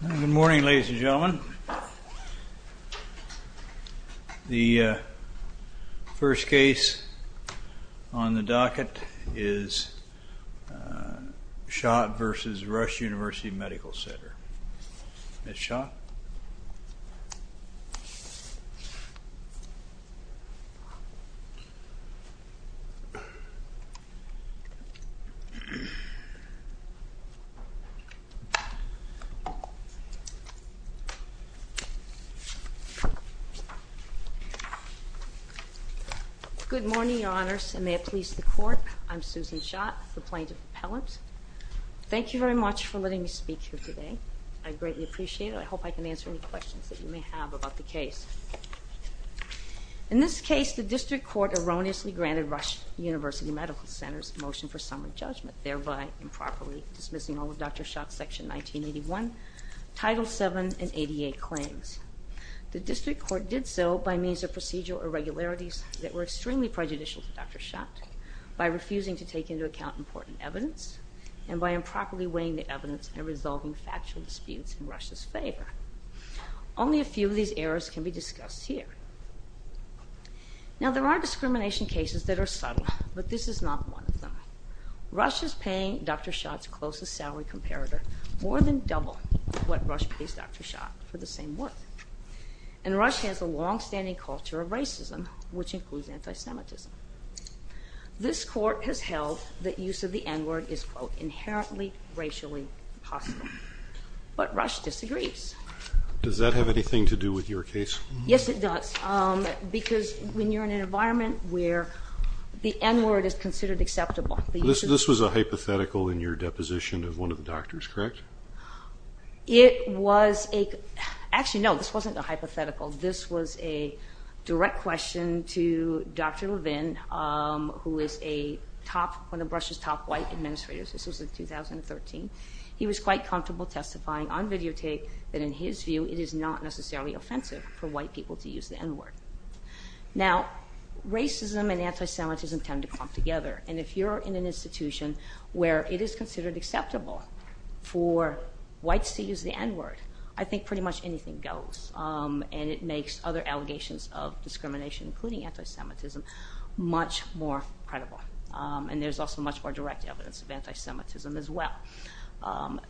Good morning, ladies and gentlemen. The first case on the docket is Shott v. Rush University Medical Center. Ms. Shott. Good morning, Your Honors, and may it please the Court, I'm Susan Shott, the Plaintiff's Appellant. Thank you very much for letting me speak here today. I greatly appreciate it. I hope I can answer any questions that you may have about the case. In this case, the District Court erroneously granted Rush University Medical Center's motion for summary judgment, thereby improperly dismissing all of Dr. Shott's Section 1981, Title VII, and 88 claims. The District Court did so by means of procedural irregularities that were extremely prejudicial to Dr. Shott, by refusing to take into account important evidence, and by improperly weighing the evidence and resolving factual disputes in Rush's favor. Only a few of these errors can be discussed here. Now, there are discrimination cases that are subtle, but this is not one of them. Rush is paying Dr. Shott's closest salary comparator more than double what Rush pays Dr. Shott for the same worth. And Rush has a longstanding culture of racism, which includes anti-Semitism. This Court has held that use of the N-word is, quote, inherently racially hostile. But Rush disagrees. Does that have anything to do with your case? Yes, it does, because when you're in an environment where the N-word is considered acceptable. This was a hypothetical in your deposition of one of the doctors, correct? It was a – actually, no, this wasn't a hypothetical. This was a direct question to Dr. Levin, who is a top – one of Rush's top white administrators. This was in 2013. He was quite comfortable testifying on videotape that, in his view, it is not necessarily offensive for white people to use the N-word. Now, racism and anti-Semitism tend to clump together. And if you're in an institution where it is considered acceptable for whites to use the N-word, I think pretty much anything goes. And it makes other allegations of discrimination, including anti-Semitism, much more credible. And there's also much more direct evidence of anti-Semitism as well.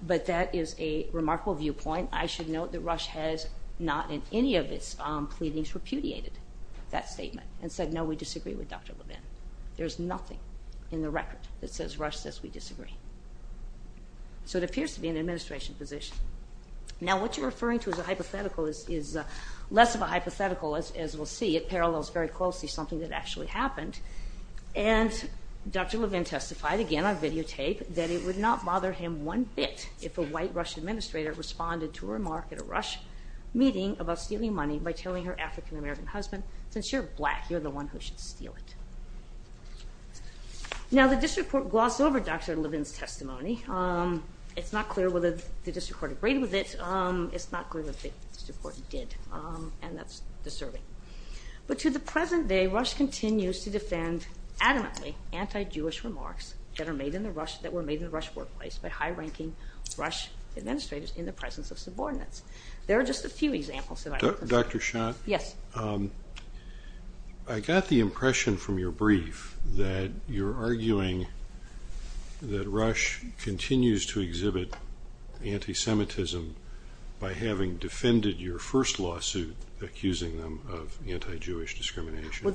But that is a remarkable viewpoint. I should note that Rush has not, in any of its pleadings, repudiated that statement and said, no, we disagree with Dr. Levin. There's nothing in the record that says Rush says we disagree. So it appears to be an administration position. Now, what you're referring to as a hypothetical is less of a hypothetical, as we'll see. It parallels very closely something that actually happened. And Dr. Levin testified, again on videotape, that it would not bother him one bit if a white Rush administrator responded to a remark at a Rush meeting about stealing money by telling her African-American husband, since you're black, you're the one who should steal it. Now, the district court glossed over Dr. Levin's testimony. It's not clear whether the district court agreed with it. It's not clear if the district court did. And that's disturbing. But to the present day, Rush continues to defend adamantly anti-Jewish remarks that were made in the Rush workplace by high-ranking Rush administrators in the presence of subordinates. There are just a few examples that I can think of. Dr. Schott? Yes. I got the impression from your brief that you're arguing that Rush continues to exhibit anti-Semitism by having defended your first lawsuit accusing them of anti-Jewish discrimination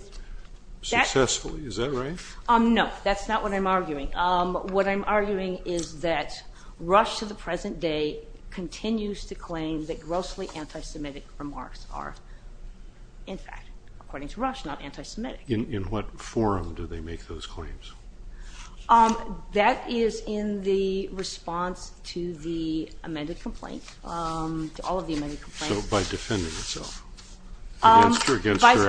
successfully. Is that right? No. That's not what I'm arguing. What I'm arguing is that Rush to the present day continues to claim that grossly anti-Semitic remarks are, in fact, according to Rush, not anti-Semitic. In what forum do they make those claims? That is in the response to the amended complaint, to all of the amended complaints. So by defending itself against their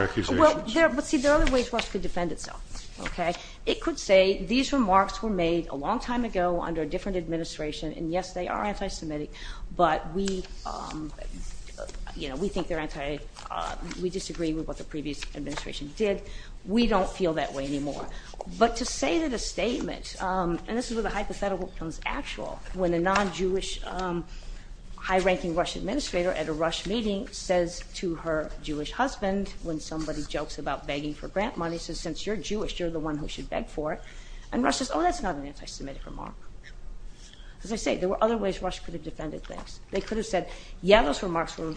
accusations? Well, see, there are other ways Rush could defend itself, okay? It could say these remarks were made a long time ago under a different administration, and, yes, they are anti-Semitic, but we, you know, we think they're anti- we disagree with what the previous administration did. We don't feel that way anymore. But to say that a statement, and this is where the hypothetical becomes actual, when a non-Jewish high-ranking Rush administrator at a Rush meeting says to her Jewish husband, when somebody jokes about begging for grant money, says, since you're Jewish, you're the one who should beg for it, and Rush says, oh, that's not an anti-Semitic remark. As I say, there were other ways Rush could have defended things. They could have said, yeah, those remarks were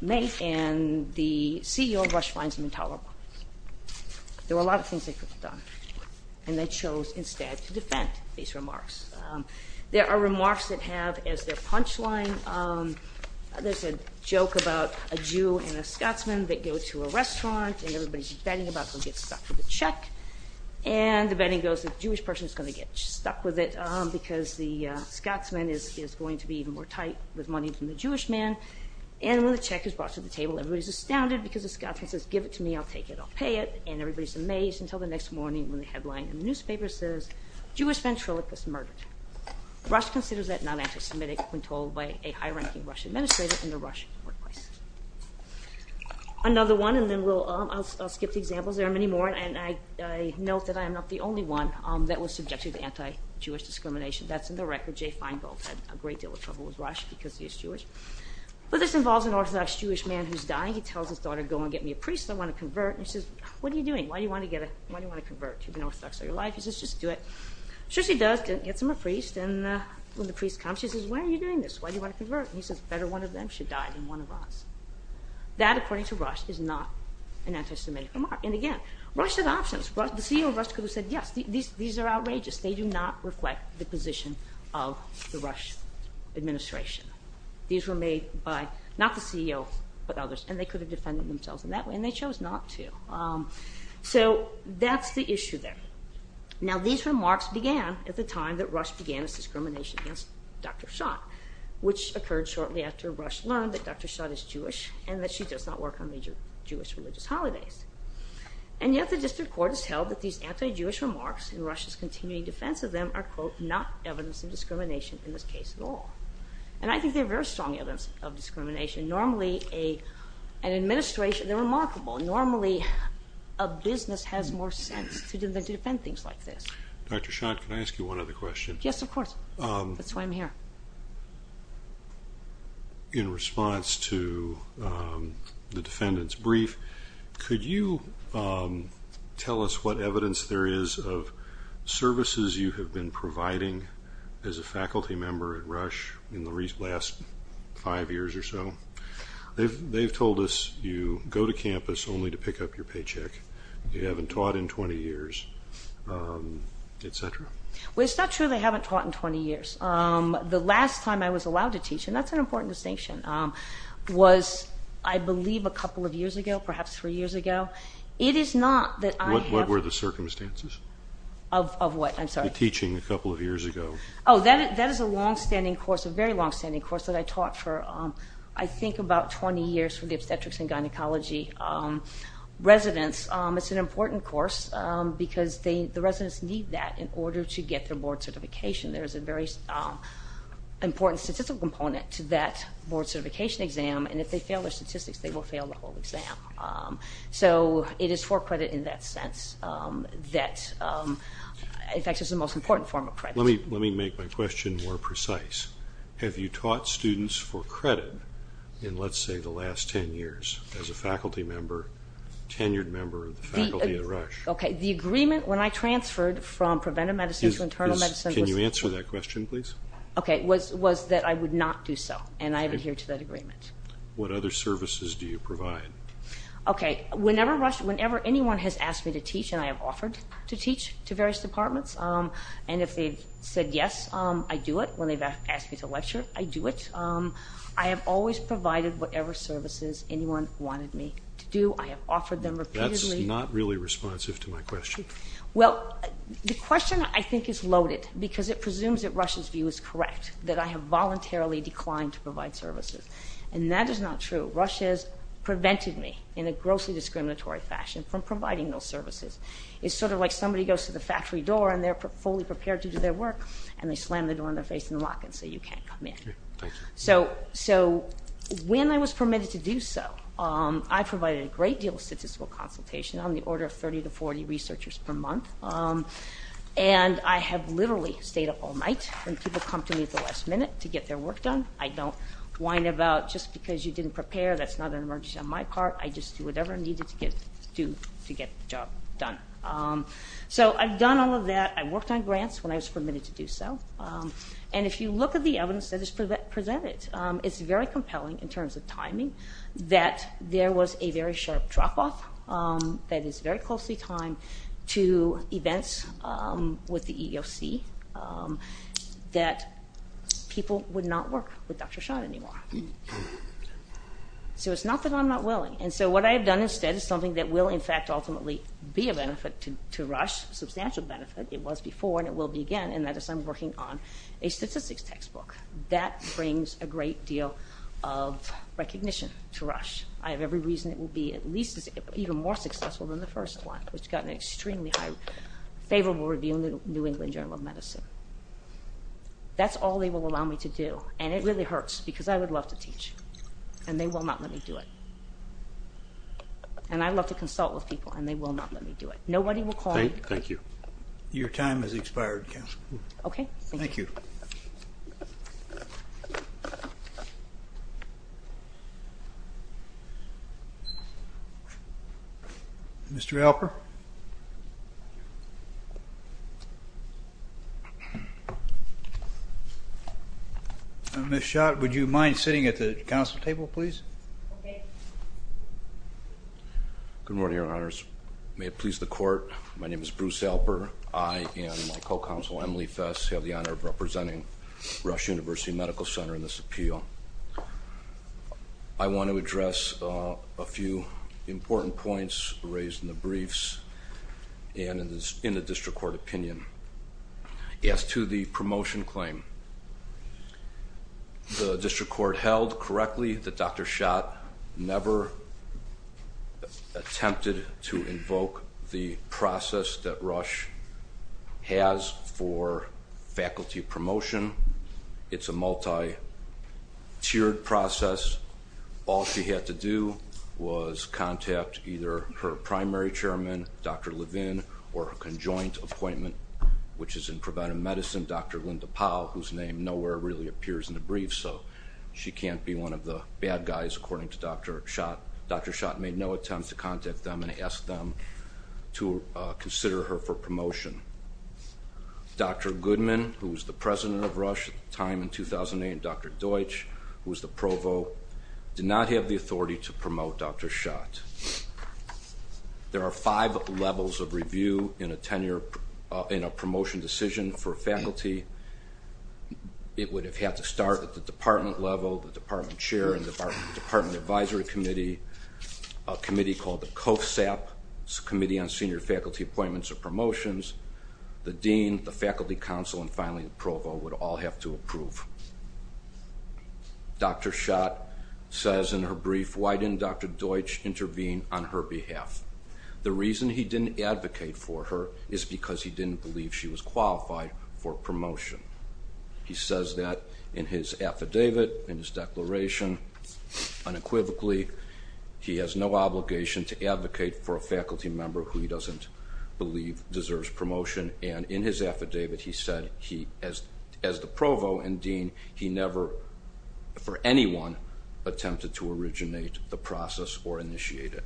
made, and the CEO of Rush finds them intolerable. There were a lot of things they could have done, and they chose instead to defend these remarks. There are remarks that have as their punchline, there's a joke about a Jew and a Scotsman that go to a restaurant, and everybody's betting about going to get stuck with a check, and the betting goes the Jewish person's going to get stuck with it because the Scotsman is going to be even more tight with money than the Jewish man, and when the check is brought to the table, everybody's astounded because the Scotsman says, give it to me, I'll take it, I'll pay it, and everybody's amazed until the next morning when the headline in the newspaper says, Jewish ventriloquist murdered. Rush considers that not anti-Semitic when told by a high-ranking Rush administrator in the Rush workplace. Another one, and then I'll skip the examples, there are many more, and I note that I am not the only one that was subjected to anti-Jewish discrimination. That's in the record. Jay Feingold had a great deal of trouble with Rush because he's Jewish. But this involves an Orthodox Jewish man who's dying. He tells his daughter, go and get me a priest, I want to convert. And she says, what are you doing? Why do you want to convert? You've been Orthodox all your life. He says, just do it. So she does, gets him a priest, and when the priest comes, she says, why are you doing this? Why do you want to convert? And he says, better one of them should die than one of us. That, according to Rush, is not an anti-Semitic remark. And again, Rush had options. The CEO of Rush could have said, yes, these are outrageous. They do not reflect the position of the Rush administration. These were made by not the CEO but others, and they could have defended themselves in that way, and they chose not to. So that's the issue there. Now these remarks began at the time that Rush began his discrimination against Dr. Schott, which occurred shortly after Rush learned that Dr. Schott is Jewish and that she does not work on major Jewish religious holidays. And yet the district court has held that these anti-Jewish remarks and Rush's continuing defense of them are, quote, not evidence of discrimination in this case at all. And I think they're very strong evidence of discrimination. Normally an administration, they're remarkable. Normally a business has more sense to defend things like this. Dr. Schott, can I ask you one other question? Yes, of course. That's why I'm here. In response to the defendant's brief, could you tell us what evidence there is of services you have been providing as a faculty member at Rush in the last five years or so? They've told us you go to campus only to pick up your paycheck, you haven't taught in 20 years, et cetera. Well, it's not true they haven't taught in 20 years. The last time I was allowed to teach, and that's an important distinction, was I believe a couple of years ago, perhaps three years ago. It is not that I have – What were the circumstances? Of what? The teaching a couple of years ago. Oh, that is a longstanding course, a very longstanding course, that I taught for I think about 20 years for the obstetrics and gynecology residents. It's an important course because the residents need that in order to get their board certification. There is a very important statistical component to that board certification exam, and if they fail their statistics, they will fail the whole exam. So it is for credit in that sense that – in fact, it's the most important form of credit. Let me make my question more precise. Have you taught students for credit in, let's say, the last 10 years as a faculty member, tenured member of the faculty at Rush? Okay, the agreement when I transferred from preventive medicine to internal medicine was – Can you answer that question, please? Okay, was that I would not do so, and I adhere to that agreement. What other services do you provide? Okay, whenever Rush – whenever anyone has asked me to teach and I have offered to teach to various departments, and if they've said yes, I do it. When they've asked me to lecture, I do it. I have always provided whatever services anyone wanted me to do. I have offered them repeatedly. That's not really responsive to my question. Well, the question I think is loaded because it presumes that Rush's view is correct, that I have voluntarily declined to provide services, and that is not true. Rush has prevented me in a grossly discriminatory fashion from providing those services. It's sort of like somebody goes to the factory door, and they're fully prepared to do their work, and they slam the door in their face and lock it and say, You can't come in. Okay, thank you. So when I was permitted to do so, I provided a great deal of statistical consultation on the order of 30 to 40 researchers per month, and I have literally stayed up all night when people come to me at the last minute to get their work done. I don't whine about, Just because you didn't prepare, that's not an emergency on my part. I just do whatever I needed to do to get the job done. So I've done all of that. I worked on grants when I was permitted to do so, and if you look at the evidence that is presented, it's very compelling in terms of timing that there was a very sharp drop-off that is very closely timed to events with the EEOC that people would not work with Dr. Shah anymore. So it's not that I'm not willing, and so what I have done instead is something that will, in fact, ultimately be a benefit to Rush, a substantial benefit. It was before, and it will be again, and that is I'm working on a statistics textbook. That brings a great deal of recognition to Rush. I have every reason it will be at least even more successful than the first one, which got an extremely favorable review in the New England Journal of Medicine. That's all they will allow me to do, and it really hurts because I would love to teach, and they will not let me do it. And I love to consult with people, and they will not let me do it. Nobody will call me. Thank you. Okay, thank you. Thank you. Thank you. Mr. Alper? Ms. Schott, would you mind sitting at the council table, please? Okay. Good morning, Your Honors. May it please the Court, my name is Bruce Alper. I and my co-counsel, Emily Fess, have the honor of representing Rush University Medical Center in this appeal. I want to address a few important points raised in the briefs and in the district court opinion. As to the promotion claim, the district court held correctly that Dr. Schott never attempted to invoke the process that Rush has for faculty promotion. It's a multi-tiered process. All she had to do was contact either her primary chairman, Dr. Levin, or her conjoint appointment, which is in preventive medicine, Dr. Linda Powell, whose name nowhere really appears in the brief, so she can't be one of the bad guys, according to Dr. Schott. Dr. Schott made no attempt to contact them and ask them to consider her for promotion. Dr. Goodman, who was the president of Rush at the time in 2008, and Dr. Deutsch, who was the provo, did not have the authority to promote Dr. Schott. There are five levels of review in a promotion decision for faculty. It would have had to start at the department level, the department chair and department advisory committee, a committee called the COFSAP, Committee on Senior Faculty Appointments or Promotions, the dean, the faculty council, and finally the provo would all have to approve. Dr. Schott says in her brief, why didn't Dr. Deutsch intervene on her behalf? The reason he didn't advocate for her is because he didn't believe she was qualified for promotion. He says that in his affidavit, in his declaration, unequivocally, he has no obligation to advocate for a faculty member who he doesn't believe deserves promotion, and in his affidavit he said he, as the provo and dean, he never, for anyone, attempted to originate the process or initiate it.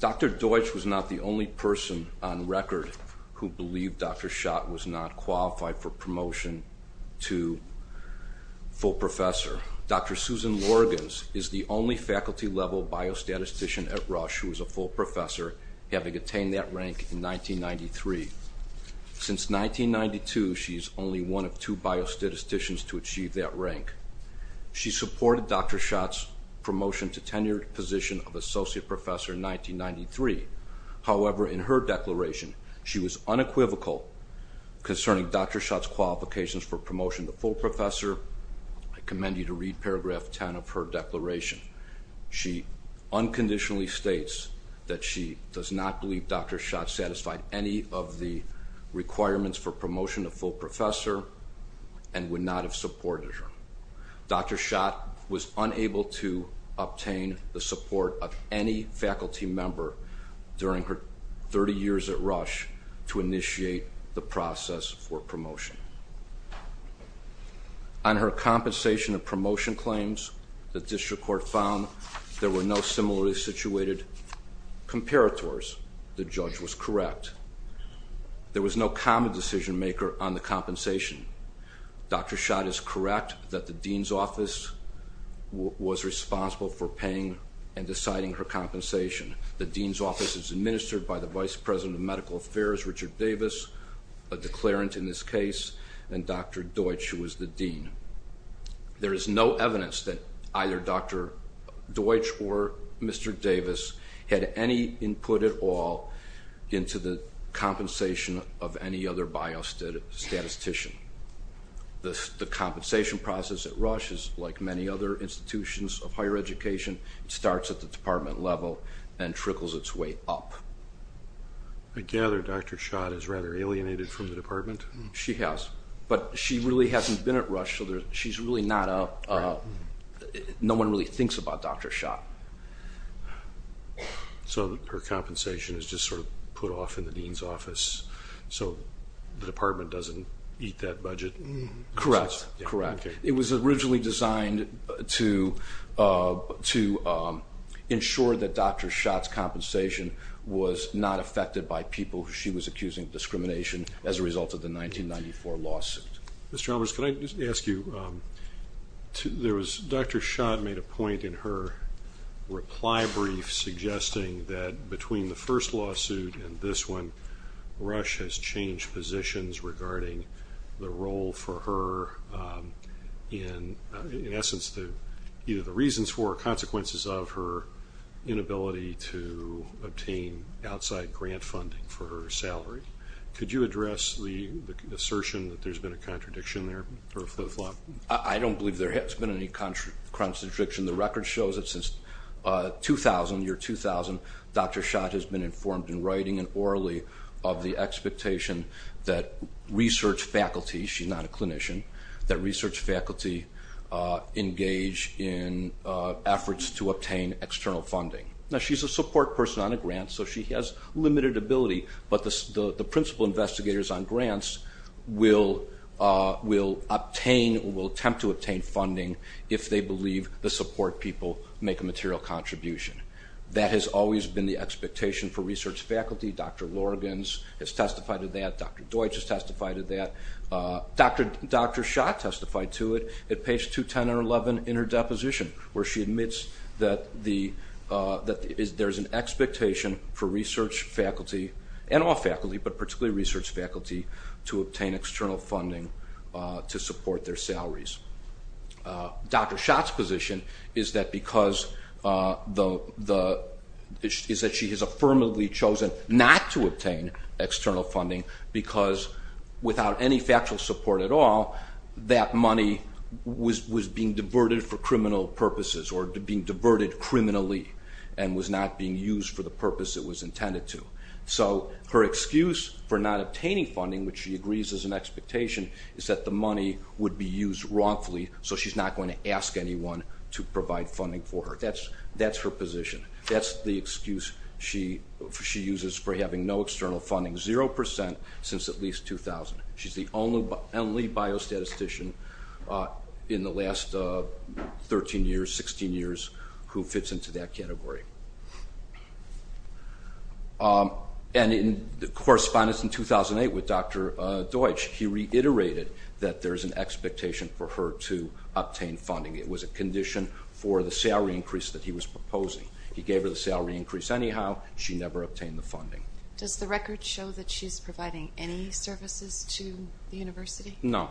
Dr. Deutsch was not the only person on record who believed Dr. Schott was not qualified for promotion to full professor. Dr. Susan Lorgans is the only faculty level biostatistician at Rush who is a full professor, having attained that rank in 1993. Since 1992, she is only one of two biostatisticians to achieve that rank. She supported Dr. Schott's promotion to tenured position of associate professor in 1993. However, in her declaration, she was unequivocal concerning Dr. Schott's qualifications for promotion to full professor. I commend you to read paragraph 10 of her declaration. She unconditionally states that she does not believe Dr. Schott satisfied any of the requirements for promotion to full professor and would not have supported her. Dr. Schott was unable to obtain the support of any faculty member during her 30 years at Rush to initiate the process for promotion. On her compensation and promotion claims, the district court found there were no similarly situated comparators. The judge was correct. There was no common decision maker on the compensation. Dr. Schott is correct that the dean's office was responsible for paying and deciding her compensation. The dean's office is administered by the vice president of medical affairs, Richard Davis, a declarant in this case, and Dr. Deutsch, who was the dean. There is no evidence that either Dr. Deutsch or Mr. Davis had any input at all into the compensation of any other biostatistician. The compensation process at Rush is like many other institutions of higher education. It starts at the department level and trickles its way up. I gather Dr. Schott is rather alienated from the department. She has, but she really hasn't been at Rush, so no one really thinks about Dr. Schott. So her compensation is just sort of put off in the dean's office, so the department doesn't eat that budget? Correct. It was originally designed to ensure that Dr. Schott's compensation was not affected by people she was accusing of discrimination as a result of the 1994 lawsuit. Ms. Chalmers, could I just ask you, Dr. Schott made a point in her reply brief suggesting that between the first lawsuit and this one, Rush has changed positions regarding the role for her, in essence, either the reasons for or consequences of her inability to obtain outside grant funding for her salary. Could you address the assertion that there's been a contradiction there, sort of flip-flop? I don't believe there has been any contradiction. The record shows that since 2000, year 2000, Dr. Schott has been informed in writing and orally of the expectation that research faculty, she's not a clinician, that research faculty engage in efforts to obtain external funding. Now, she's a support person on a grant, so she has limited ability, but the principal investigators on grants will obtain, will attempt to obtain funding if they believe the support people make a material contribution. That has always been the expectation for research faculty. Dr. Lorgans has testified to that. Dr. Deutsch has testified to that. Dr. Schott testified to it at page 210 and 11 in her deposition, where she admits that there's an expectation for research faculty, and all faculty, but particularly research faculty, to obtain external funding to support their salaries. Dr. Schott's position is that because the, is that she has affirmatively chosen not to obtain external funding, because without any factual support at all, that money was being diverted for criminal purposes, or being diverted criminally, and was not being used for the purpose it was intended to. So, her excuse for not obtaining funding, which she agrees is an expectation, is that the money would be used wrongfully, so she's not going to ask anyone to provide funding for her. That's her position. That's the excuse she uses for having no external funding, 0% since at least 2000. She's the only biostatistician in the last 13 years, 16 years, who fits into that category. And in correspondence in 2008 with Dr. Deutsch, he reiterated that there's an expectation for her to obtain funding. It was a condition for the salary increase that he was proposing. He gave her the salary increase anyhow. She never obtained the funding. Does the record show that she's providing any services to the university? No.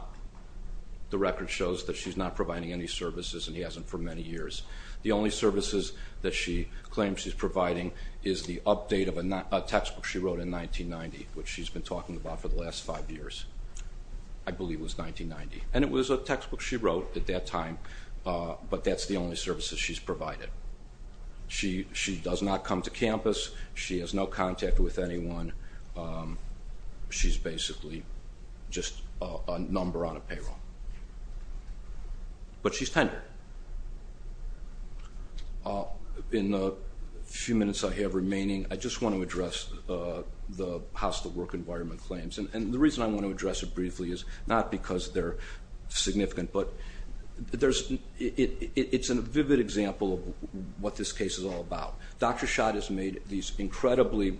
The record shows that she's not providing any services, and he hasn't for many years. The only services that she claims she's providing is the update of a textbook she wrote in 1990, which she's been talking about for the last five years. I believe it was 1990. And it was a textbook she wrote at that time, but that's the only services she's provided. She does not come to campus. She has no contact with anyone. She's basically just a number on a payroll. But she's tender. In the few minutes I have remaining, I just want to address the hostile work environment claims. And the reason I want to address it briefly is not because they're significant, but it's a vivid example of what this case is all about. Dr. Schott has made these incredibly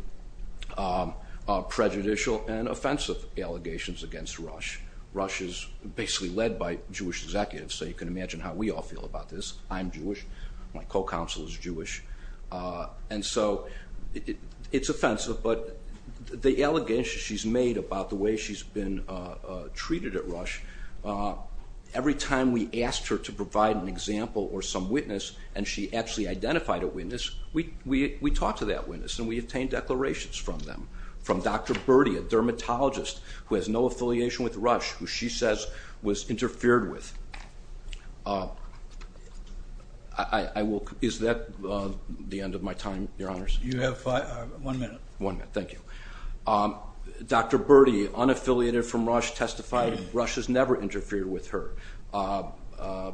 prejudicial and offensive allegations against Rush. Rush is basically led by Jewish executives, so you can imagine how we all feel about this. I'm Jewish. My co-counsel is Jewish. And so it's offensive, but the allegations she's made about the way she's been treated at Rush, every time we asked her to provide an example or some witness and she actually identified a witness, we talked to that witness and we obtained declarations from them, from Dr. Burdi, a dermatologist who has no affiliation with Rush, who she says was interfered with. Is that the end of my time, Your Honors? You have one minute. One minute. Thank you. Dr. Burdi, unaffiliated from Rush, testified Rush has never interfered with her. Dr.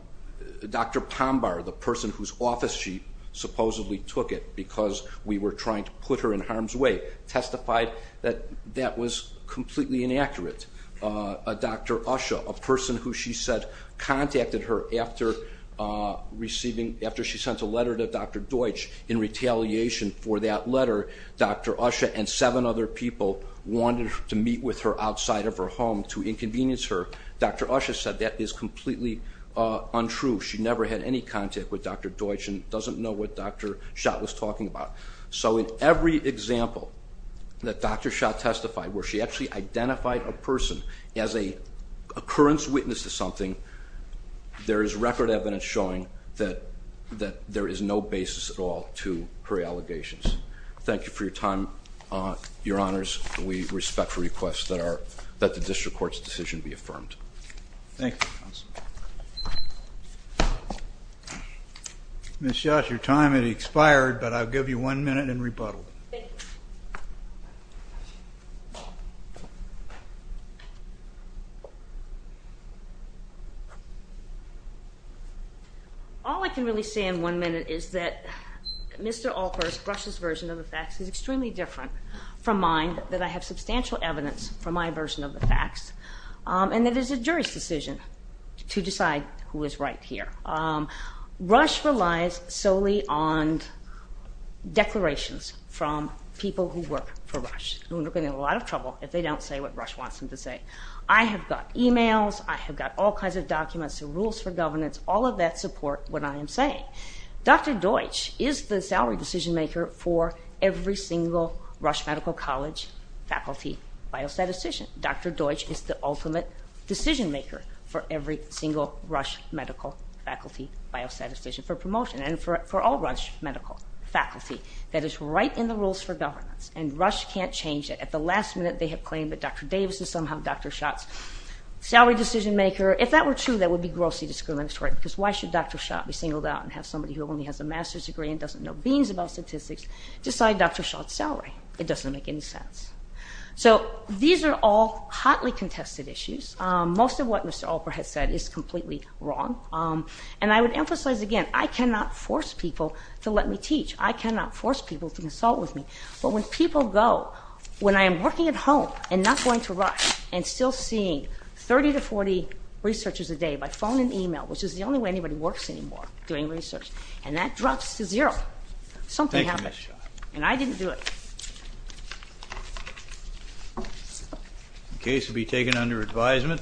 Pombar, the person whose office she supposedly took it because we were trying to put her in harm's way, testified that that was completely inaccurate. Dr. Usher, a person who she said contacted her after she sent a letter to Dr. Deutsch in retaliation for that letter, Dr. Usher and seven other people wanted to meet with her outside of her home to inconvenience her. Dr. Usher said that is completely untrue. She never had any contact with Dr. Deutsch and doesn't know what Dr. Schott was talking about. So in every example that Dr. Schott testified where she actually identified a person as an occurrence witness to something, there is record evidence showing that there is no basis at all to her allegations. Thank you for your time, Your Honors. We respect the request that the district court's decision be affirmed. Thank you, counsel. Ms. Schott, your time has expired, but I'll give you one minute and rebuttal. Thank you. All I can really say in one minute is that Mr. Alpers, Rush's version of the facts, is extremely different from mine, that I have substantial evidence from my version of the facts, and that it is a jury's decision to decide who is right here. Rush relies solely on declarations from people who work for Rush, who are going to be in a lot of trouble if they don't say what Rush wants them to say. I have got e-mails. I have got all kinds of documents and rules for governance. All of that support what I am saying. Dr. Deutsch is the salary decision maker for every single Rush Medical College faculty biostatistician. Dr. Deutsch is the ultimate decision maker for every single Rush Medical faculty biostatistician for promotion, and for all Rush Medical faculty. That is right in the rules for governance, and Rush can't change that. At the last minute, they have claimed that Dr. Davis is somehow Dr. Schott's salary decision maker. If that were true, that would be grossly discriminatory, because why should Dr. Schott be singled out and have somebody who only has a master's degree and doesn't know beans about statistics decide Dr. Schott's salary? It doesn't make any sense. So these are all hotly contested issues. Most of what Mr. Alper has said is completely wrong. And I would emphasize again, I cannot force people to let me teach. I cannot force people to consult with me. But when people go, when I am working at home and not going to Rush and still seeing 30 to 40 researchers a day by phone and e-mail, which is the only way anybody works anymore, doing research, and that drops to zero, something happens. And I didn't do it. The case will be taken under advisement.